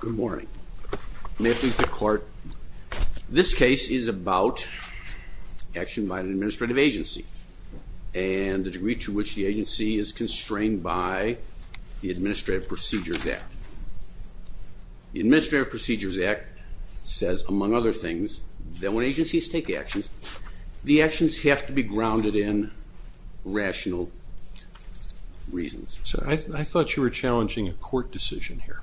Good morning. May it please the court, this case is about action by an administrative agency and the degree to which the agency is constrained by the Administrative Procedures Act. The Administrative Procedures Act says, among other things, that when agencies take actions, the actions have to be grounded in rational reasons. So I thought you were challenging a court decision here.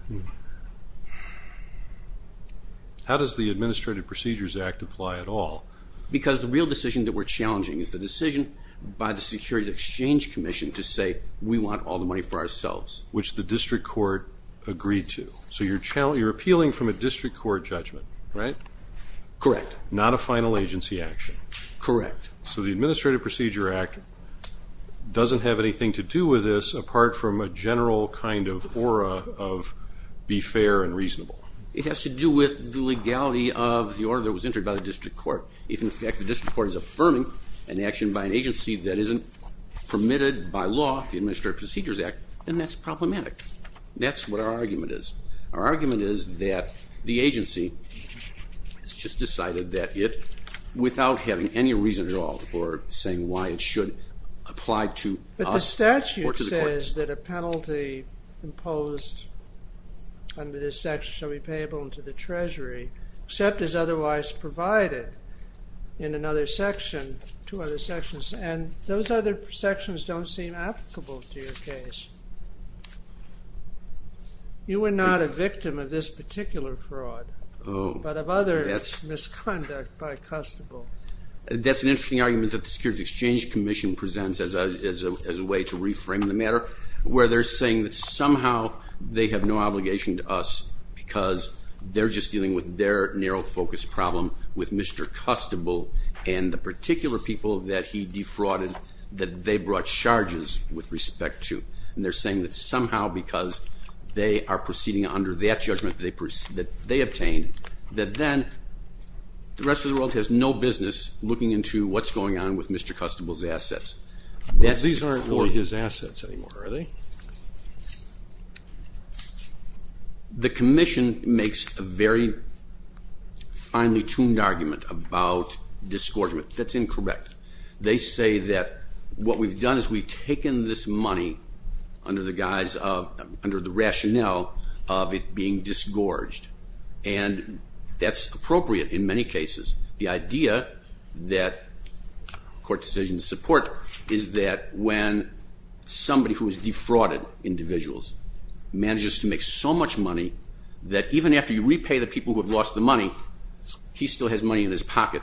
How does the Administrative Procedures Act apply at all? Because the real decision that we're challenging is the decision by the Securities Exchange Commission to say we want all the money for ourselves. Which the district court agreed to. So you're appealing from a district court judgment, right? Correct. Not a final agency action. Correct. So the Administrative Procedure Act doesn't have anything to do with this apart from a general kind of aura of be fair and reasonable. It has to do with the legality of the order that was entered by the district court. If in fact the district court is affirming an action by an agency that isn't permitted by law, the Administrative Procedures Act, then that's problematic. That's what our argument is. Our argument is that the agency has just decided that it, without having any reason at all for saying why it should apply to us. But the statute says that a penalty imposed under this section shall be payable to the Treasury, except as otherwise provided in another section, two other sections, and those other sections don't seem applicable to your case. You were not a victim of this particular fraud, but of other misconduct by Custable. That's an interesting argument that the Securities Exchange Commission presents as a way to reframe the matter, where they're saying that somehow they have no obligation to us because they're just dealing with their narrow focus problem with Mr. Custable and the particular people that he defrauded that they brought charges with respect to. And they're saying that somehow because they are proceeding under that judgment that they obtained, that then the rest of the world has no business looking into what's going on with Mr. Custable's assets. These aren't really his assets anymore, are they? The Commission makes a very finely tuned argument about disgorgement. That's incorrect. They say that what we've done is we've taken this and that's appropriate in many cases. The idea that court decisions support is that when somebody who has defrauded individuals manages to make so much money that even after you repay the people who have lost the money, he still has money in his pocket,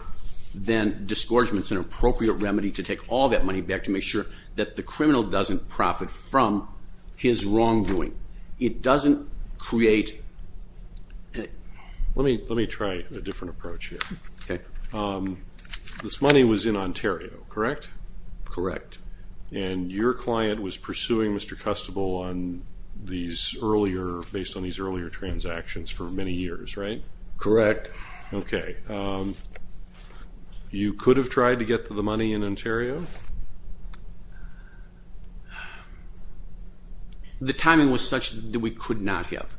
then disgorgement's an appropriate remedy to take all that money back to make sure that the criminal doesn't profit from his wrongdoing. It doesn't create... Let me try a different approach here. This money was in Ontario, correct? Correct. And your client was pursuing Mr. Custable based on these earlier transactions for many years, right? Correct. Okay. You could have tried to get the money in Ontario? The timing was such that we could not have.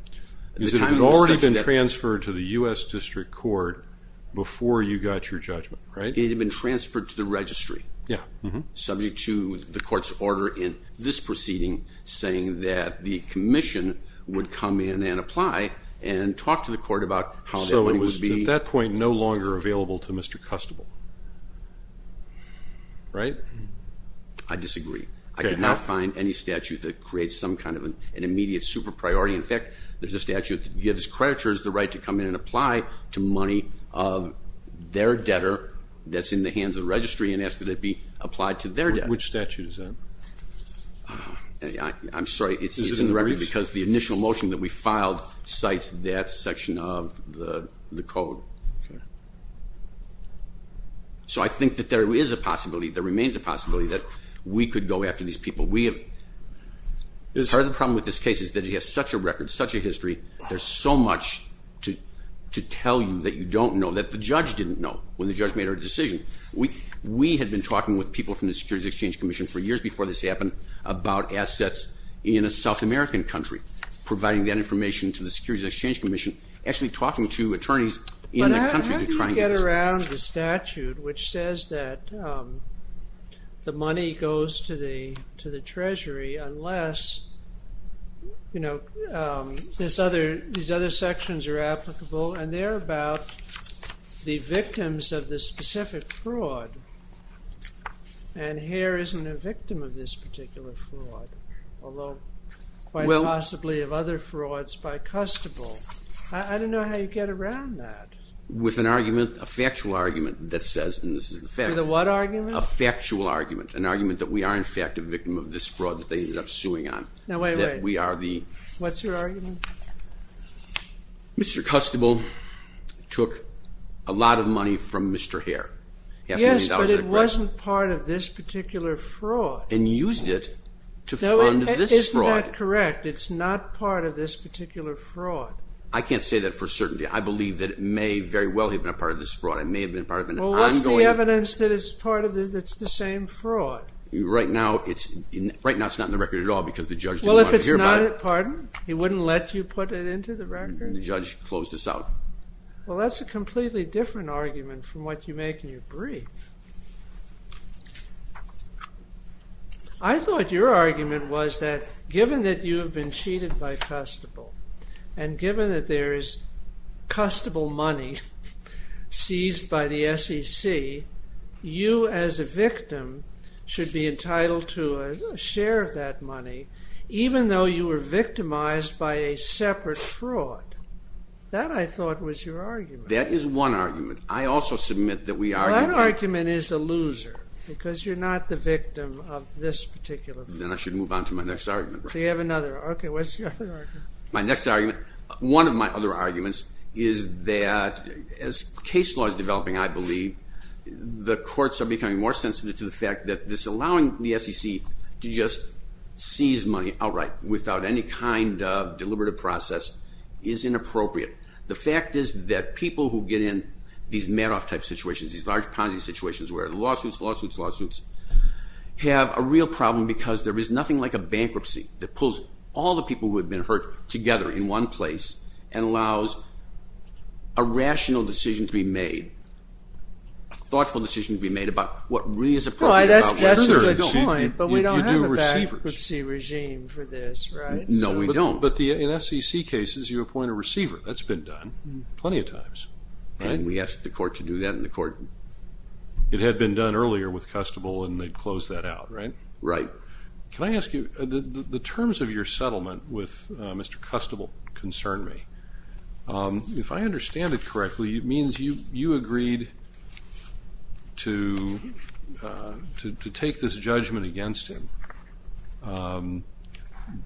It had already been transferred to the U.S. District Court before you got your judgment, right? It had been transferred to the registry, subject to the court's order in this proceeding saying that the Commission would come in and apply and talk to the court about how the money would be... So it was, at that point, no longer available to Mr. Custable, right? I disagree. I cannot find any statute that creates some kind of an immediate super priority. In fact, there's a statute that gives creditors the right to come in and apply to money of their debtor that's in the hands of the registry and ask that it be applied to their debtor. Which statute is that? I'm sorry, it's in the record because the initial motion that we filed cites that section of the code. So I think that there is a possibility, there remains a possibility, that we could go after these people. We have heard the problem with this case is that it has such a record, such a history, there's so much to tell you that you don't know, that the judge didn't know when the judge made our decision. We had been talking with people from the Securities Exchange Commission for years before this happened about assets in a South American country, providing that information to the Securities Exchange Commission, actually talking to attorneys in the country to try and get... But how do you get around the statute which says that the money goes to the Treasury unless, you know, these other sections are applicable and they're about the victims of this specific fraud and Hare isn't a victim of this particular fraud, although quite possibly of other frauds by Custable. I don't know how you get around that. With an argument, a factual argument, that says... With a what argument? A factual argument, an argument that we are in fact a victim of this fraud that they ended up suing on. What's your argument? Mr. Custable took a lot of money from Mr. Hare. Yes, but it wasn't part of this particular fraud. And used it to fund this fraud. Isn't that correct? It's not part of this particular fraud. I can't say that for certainty. I believe that it may very well have been a part of this fraud. It may have been part of an ongoing... Well what's the evidence that it's part of this, that's the same fraud? Right now it's not in the record at all because the judge didn't want to hear about it. Well if it's not, pardon? He wouldn't let you put it into the record? The judge closed us out. Well that's a completely different argument from what you make in your brief. I thought your argument was that given that you have been cheated by Custable and given that there is Custable money seized by the SEC, you as a victim should be entitled to a share of that money even though you were victimized by a separate fraud. That I thought was your argument. That is one argument. I also submit that we are... That argument is a loser because you're not the victim of this particular fraud. Then I should move on to my next argument. So you have another. Okay, what's your other argument? My next argument, one of my other arguments is that as case law is developing, I believe, the courts are becoming more sensitive to the fact that this allowing the SEC to just seize money outright without any kind of deliberative process is inappropriate. The fact is that people who get in these Madoff type situations, these large Ponzi situations where lawsuits, lawsuits, lawsuits, have a real problem because there is nothing like a bankruptcy that pulls all the people who have been hurt together in one place and allows a rational decision to be made, a thoughtful decision to be made about what really is appropriate. No, that's a good point, but we don't have a bankruptcy regime for this, right? No, we don't. But in SEC cases, you appoint a receiver. That's been done plenty of times. And we asked the court to do that and the court... It had been done earlier with Custable and they closed that out, right? Right. Can I ask you, the terms of your settlement with Mr. Custable concern me. If I understand it correctly, it means you agreed to take this judgment against him,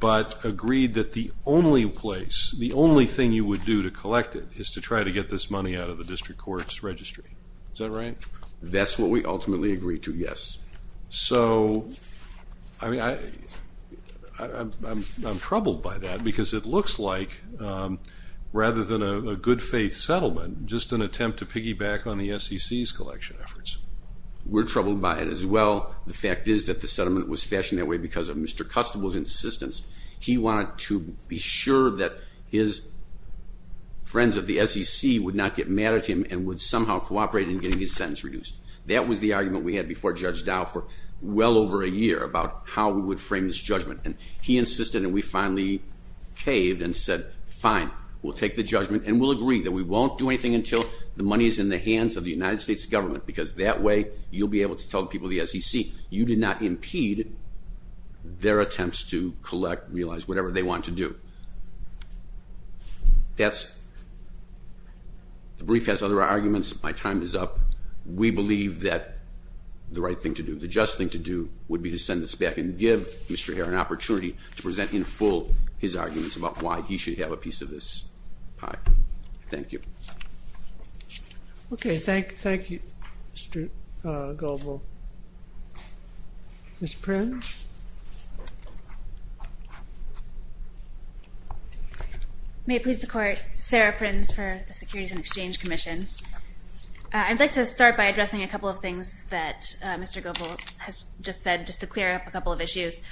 but agreed that the only place, the only thing you would do to collect it is to try to get this money out of the district court's registry. Is that right? That's what we ultimately agreed to, yes. So, I mean, I'm troubled by that because it looks like, rather than a good faith settlement, just an attempt to piggyback on the SEC's collection efforts. We're troubled by it as well. The fact is that the settlement was fashioned that way because of Mr. Custable's insistence. He wanted to be sure that his friends at the SEC would not get mad at him and would somehow cooperate in getting his sentence reduced. That was the argument we had before Judge Dow for well over a year about how we would frame this judgment. And he insisted and we finally caved and said, fine, we'll take the judgment and we'll agree that we won't do anything until the money is in the hands of the United States government because that way you'll be able to tell the people of the SEC you did not impede their attempts to collect, realize, whatever they want to do. The brief has other arguments. My time is up. We believe that the right thing to do, the just thing to do, would be to send this back and give Mr. Herr an opportunity to present in full his arguments about why he should have a piece of this pie. Thank you. Okay, thank you, Mr. Gobel. Ms. Prins? May it please the court, Sarah Prins for the Securities and Exchange Commission. I'd like to start by addressing a couple of things that Mr. Gobel has just said just to clear up a couple of issues.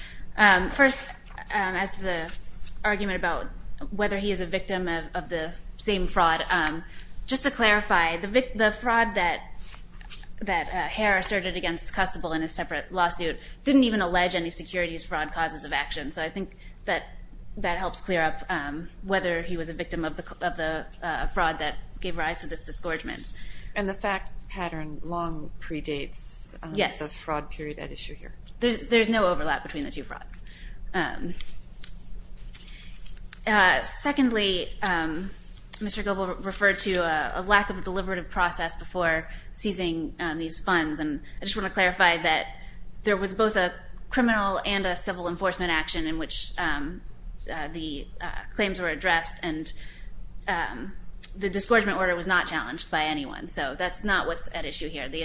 First, as to the argument about whether he is a victim of the same fraud, just to clarify, the fraud that Herr asserted against Custable in his separate lawsuit didn't even allege any securities fraud causes of action. So I think that that helps clear up whether he was a victim of the fraud that gave rise to this disgorgement. And the fact pattern long predates the fraud period at issue here. There's no overlap between the two frauds. Secondly, Mr. Gobel referred to a lack of a deliberative process before seizing these funds. And I just want to clarify that there was both a criminal and a civil enforcement action in which the claims were addressed and the disgorgement order was not challenged by anyone. So that's not what's at issue here. The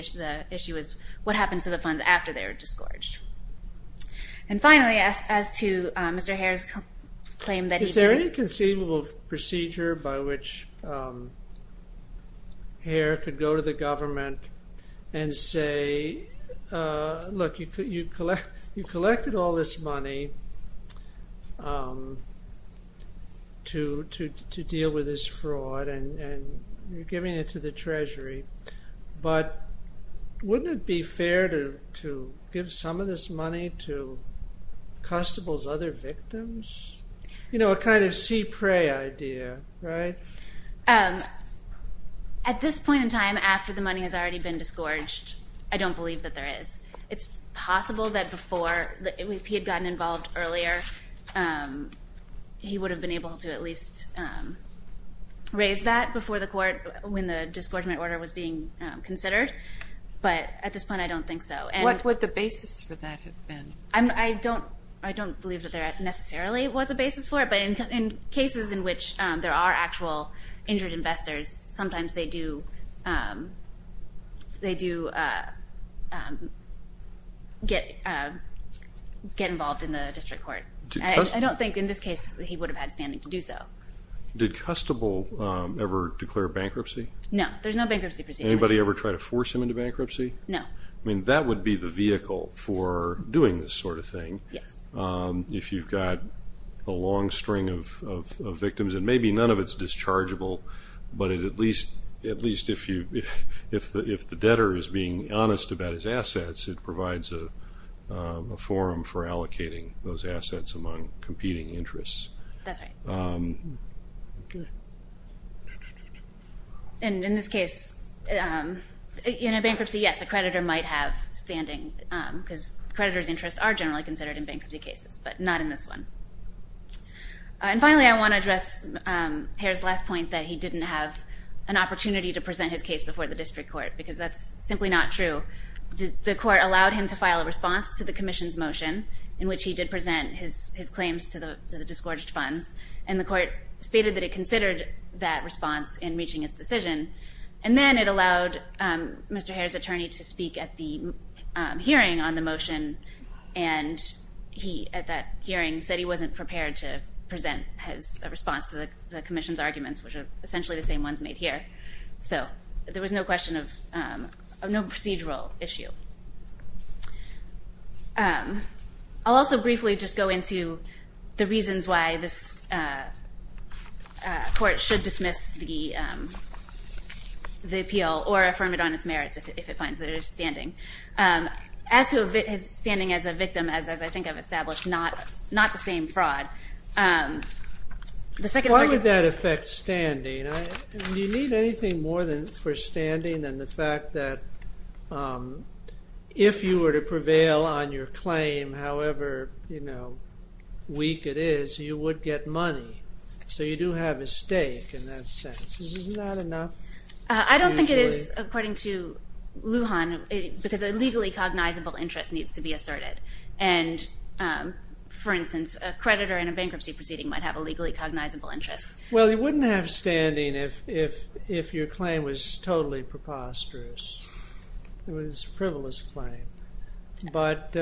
issue is what happened to the funds after they were disgorged. And finally, as to Mr. Herr's claim that he... Is there any conceivable procedure by which Herr could go to the government and say, look, you collected all this money to deal with this fraud and you're giving it to the Treasury. But wouldn't it be fair to give some of this money to Custable's other victims? You know, a kind of see prey idea, right? At this point in time, after the money has already been disgorged, I don't believe that there is. It's possible that before, if he had gotten involved earlier, he would have been able to at least raise that before the court, when the disgorgement order was being considered. But at this point, I don't think so. What would the basis for that have been? I don't believe that there necessarily was a basis for it, but in cases in which there are actual injured investors, sometimes they do get involved in the district court. I don't think in this case that he would have had standing to do so. Did Custable ever declare bankruptcy? No, there's no bankruptcy procedure. Anybody ever try to force him into bankruptcy? No. I mean, that would be the vehicle for doing this sort of thing. Yes. If you've got a long string of victims, and maybe none of it's dischargeable, but at least if the debtor is being honest about his assets, it provides a forum for allocating those assets among competing interests. That's right. Okay. And in this case, in a bankruptcy, yes, a creditor might have standing, because creditor's interests are generally considered in bankruptcy cases, but not in this one. And finally, I want to address Hare's last point that he didn't have an opportunity to present his case before the district court, because that's simply not true. The court allowed him to file a response to the commission's motion, in which he did present his claims to the disgorged funds, and the court stated that it considered that response in reaching its decision. And then it allowed Mr. Hare's attorney to speak at the hearing on the motion, and he, at that hearing, said he wasn't prepared to present his response to the commission's arguments, which are essentially the same ones made here. So, there was no question of, no procedural issue. I'll also briefly just go into the reasons why this court should dismiss the appeal, or affirm it on its merits if it finds that it is standing. As to standing as a victim, as I think I've established, not the same fraud. Why would that affect standing? Do you need anything more for standing than the fact that if you were to prevail on your claim, however weak it is, you would get money? So you do have a stake in that sense. Isn't that enough? I don't think it is, according to Lujan, because a legally cognizable interest needs to be asserted. And, for instance, a creditor in a bankruptcy proceeding might have a legally cognizable interest. Well, you wouldn't have standing if your claim was totally preposterous. It was a frivolous claim. But,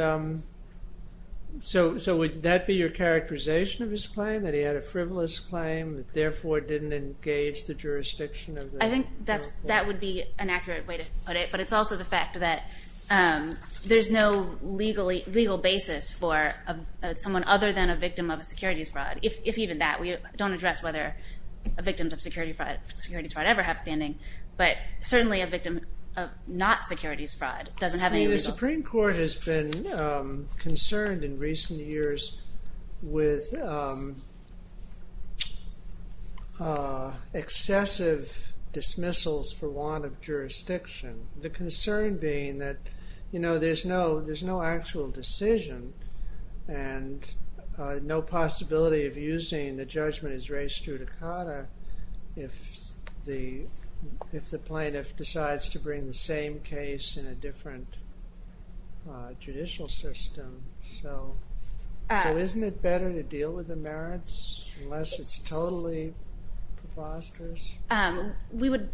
so would that be your characterization of his claim, that he had a frivolous claim that therefore didn't engage the jurisdiction of the court? I think that would be an accurate way to put it. But it's also the fact that there's no legal basis for someone other than a victim of securities fraud. If even that, we don't address whether a victim of securities fraud ever have standing. But certainly a victim of not securities fraud doesn't have any legal basis. The concern being that, you know, there's no actual decision and no possibility of using the judgment as raised through the cotta if the plaintiff decides to bring the same case in a different judicial system. So isn't it better to deal with the merits unless it's totally preposterous? We would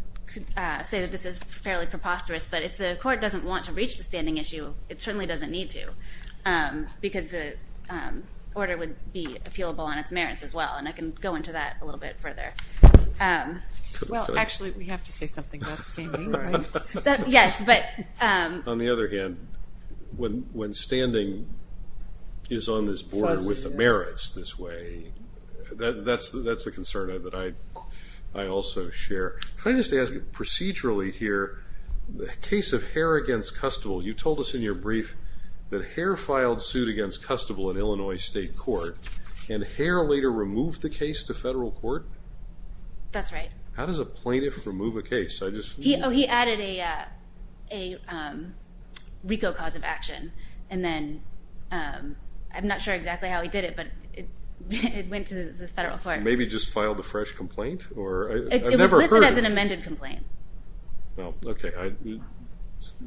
say that this is fairly preposterous. But if the court doesn't want to reach the standing issue, it certainly doesn't need to. Because the order would be appealable on its merits as well. And I can go into that a little bit further. Well, actually, we have to say something about standing, right? Yes, but... On the other hand, when standing is on this board with the merits this way, that's a concern that I also share. Can I just ask you procedurally here, the case of Hare against Custable. You told us in your brief that Hare filed suit against Custable in Illinois State Court, and Hare later removed the case to federal court? That's right. How does a plaintiff remove a case? He added a RICO cause of action. I'm not sure exactly how he did it, but it went to the federal court. Maybe he just filed a fresh complaint? It was listed as an amended complaint. Okay.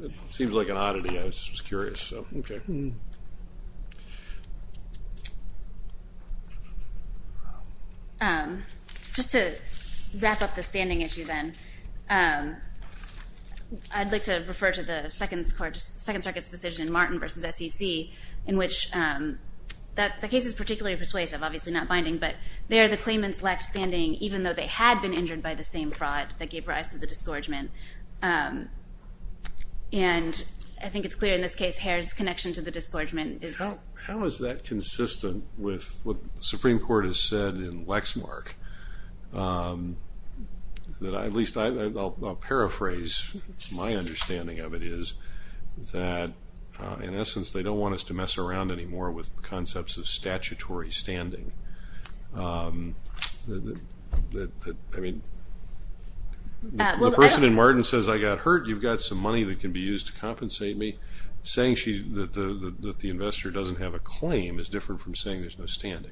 It seems like an oddity. I was just curious. Okay. Just to wrap up the standing issue then, I'd like to refer to the Second Circuit's decision, Martin v. SEC, in which the case is particularly persuasive, obviously not binding, but there the claimants lacked standing even though they had been injured by the same fraud that gave rise to the disgorgement. And I think it's clear in this case Hare's connection to the disgorgement is... How is that consistent with what the Supreme Court has said in Lexmark? At least I'll paraphrase. My understanding of it is that, in essence, they don't want us to mess around anymore with concepts of statutory standing. I mean, the person in Martin says, I got hurt. You've got some money that can be used to compensate me. Saying that the investor doesn't have a claim is different from saying there's no standing.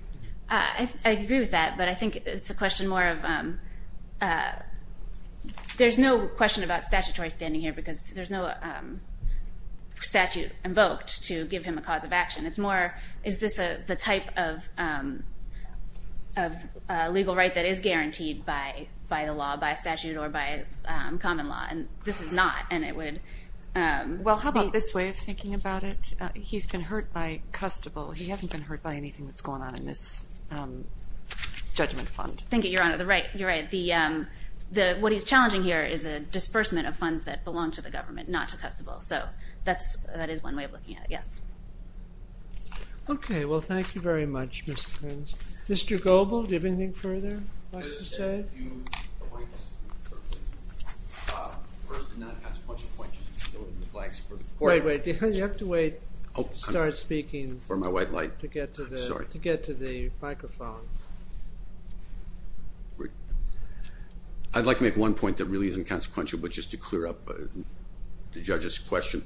I agree with that, but I think it's a question more of... There's no question about statutory standing here because there's no statute invoked to give him a cause of action. It's more, is this the type of legal right that is guaranteed by the law, by statute, or by common law? And this is not, and it would... Well, how about this way of thinking about it? He's been hurt by custodial. He hasn't been hurt by anything that's going on in this judgment fund. Thank you, Your Honor. You're right. What he's challenging here is a disbursement of funds that belong to the government, not to custodial. So that is one way of looking at it. Yes. Okay. Well, thank you very much, Ms. Frenz. Mr. Goebel, do you have anything further you'd like to say? I just have a few points. The person that has a bunch of points is still in the flags for the court. Wait, wait. You have to wait to start speaking to get to the microphone. I'd like to make one point that really isn't consequential, but just to clear up the judge's question.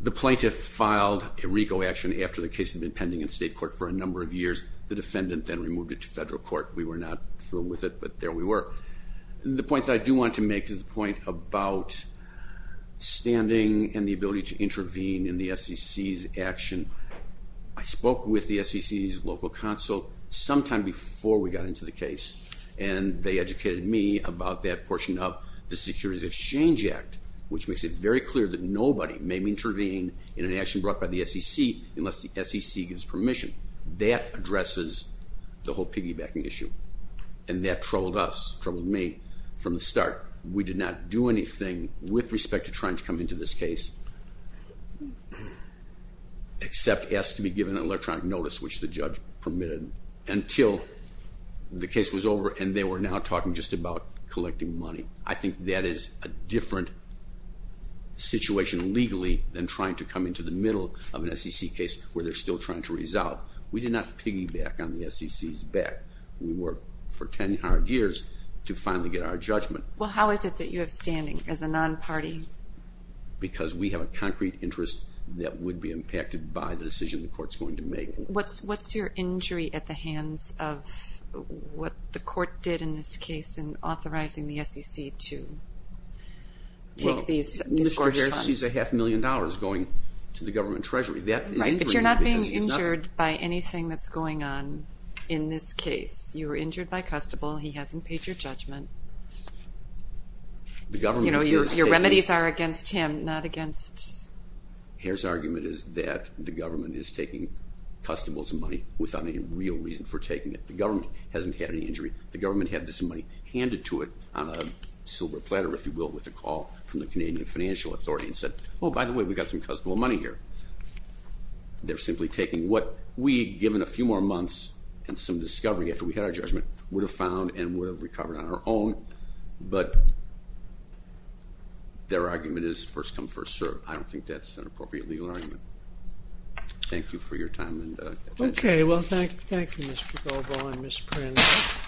The plaintiff filed a RICO action after the case had been pending in state court for a number of years. The defendant then removed it to federal court. We were not thrilled with it, but there we were. The point that I do want to make is the point about standing and the ability to intervene in the SEC's action. I spoke with the SEC's local counsel sometime before we got into the case, and they educated me about that portion of the Securities Exchange Act, which makes it very clear that nobody may intervene in an action brought by the SEC unless the SEC gives permission. That addresses the whole piggybacking issue. And that troubled us, troubled me from the start. We did not do anything with respect to trying to come into this case except ask to be given an electronic notice, which the judge permitted until the case was over, and they were now talking just about collecting money. I think that is a different situation legally than trying to come into the middle of an SEC case where they're still trying to resolve. We did not piggyback on the SEC's back. We worked for 10-odd years to finally get our judgment. Well, how is it that you have standing as a non-party? Because we have a concrete interest that would be impacted by the decision the court's going to make. What's your injury at the hands of what the court did in this case in authorizing the SEC to take these disgorge funds? Well, Mr. Harris sees a half million dollars going to the government treasury. But you're not being injured by anything that's going on in this case. You were injured by Custable. He hasn't paid your judgment. Your remedies are against him, not against... Harris' argument is that the government is taking Custable's money without any real reason for taking it. The government hasn't had any injury. The government had this money handed to it on a silver platter, if you will, with a call from the Canadian Financial Authority and said, oh, by the way, we've got some Custable money here. They're simply taking what we, given a few more months and some discovery after we had our judgment, would have found and would have recovered on our own. But their argument is first come, first served. I don't think that's an appropriate legal argument. Thank you for your time and attention. Okay. Well, thank you, Mr. Goldbaugh and Ms. Prince.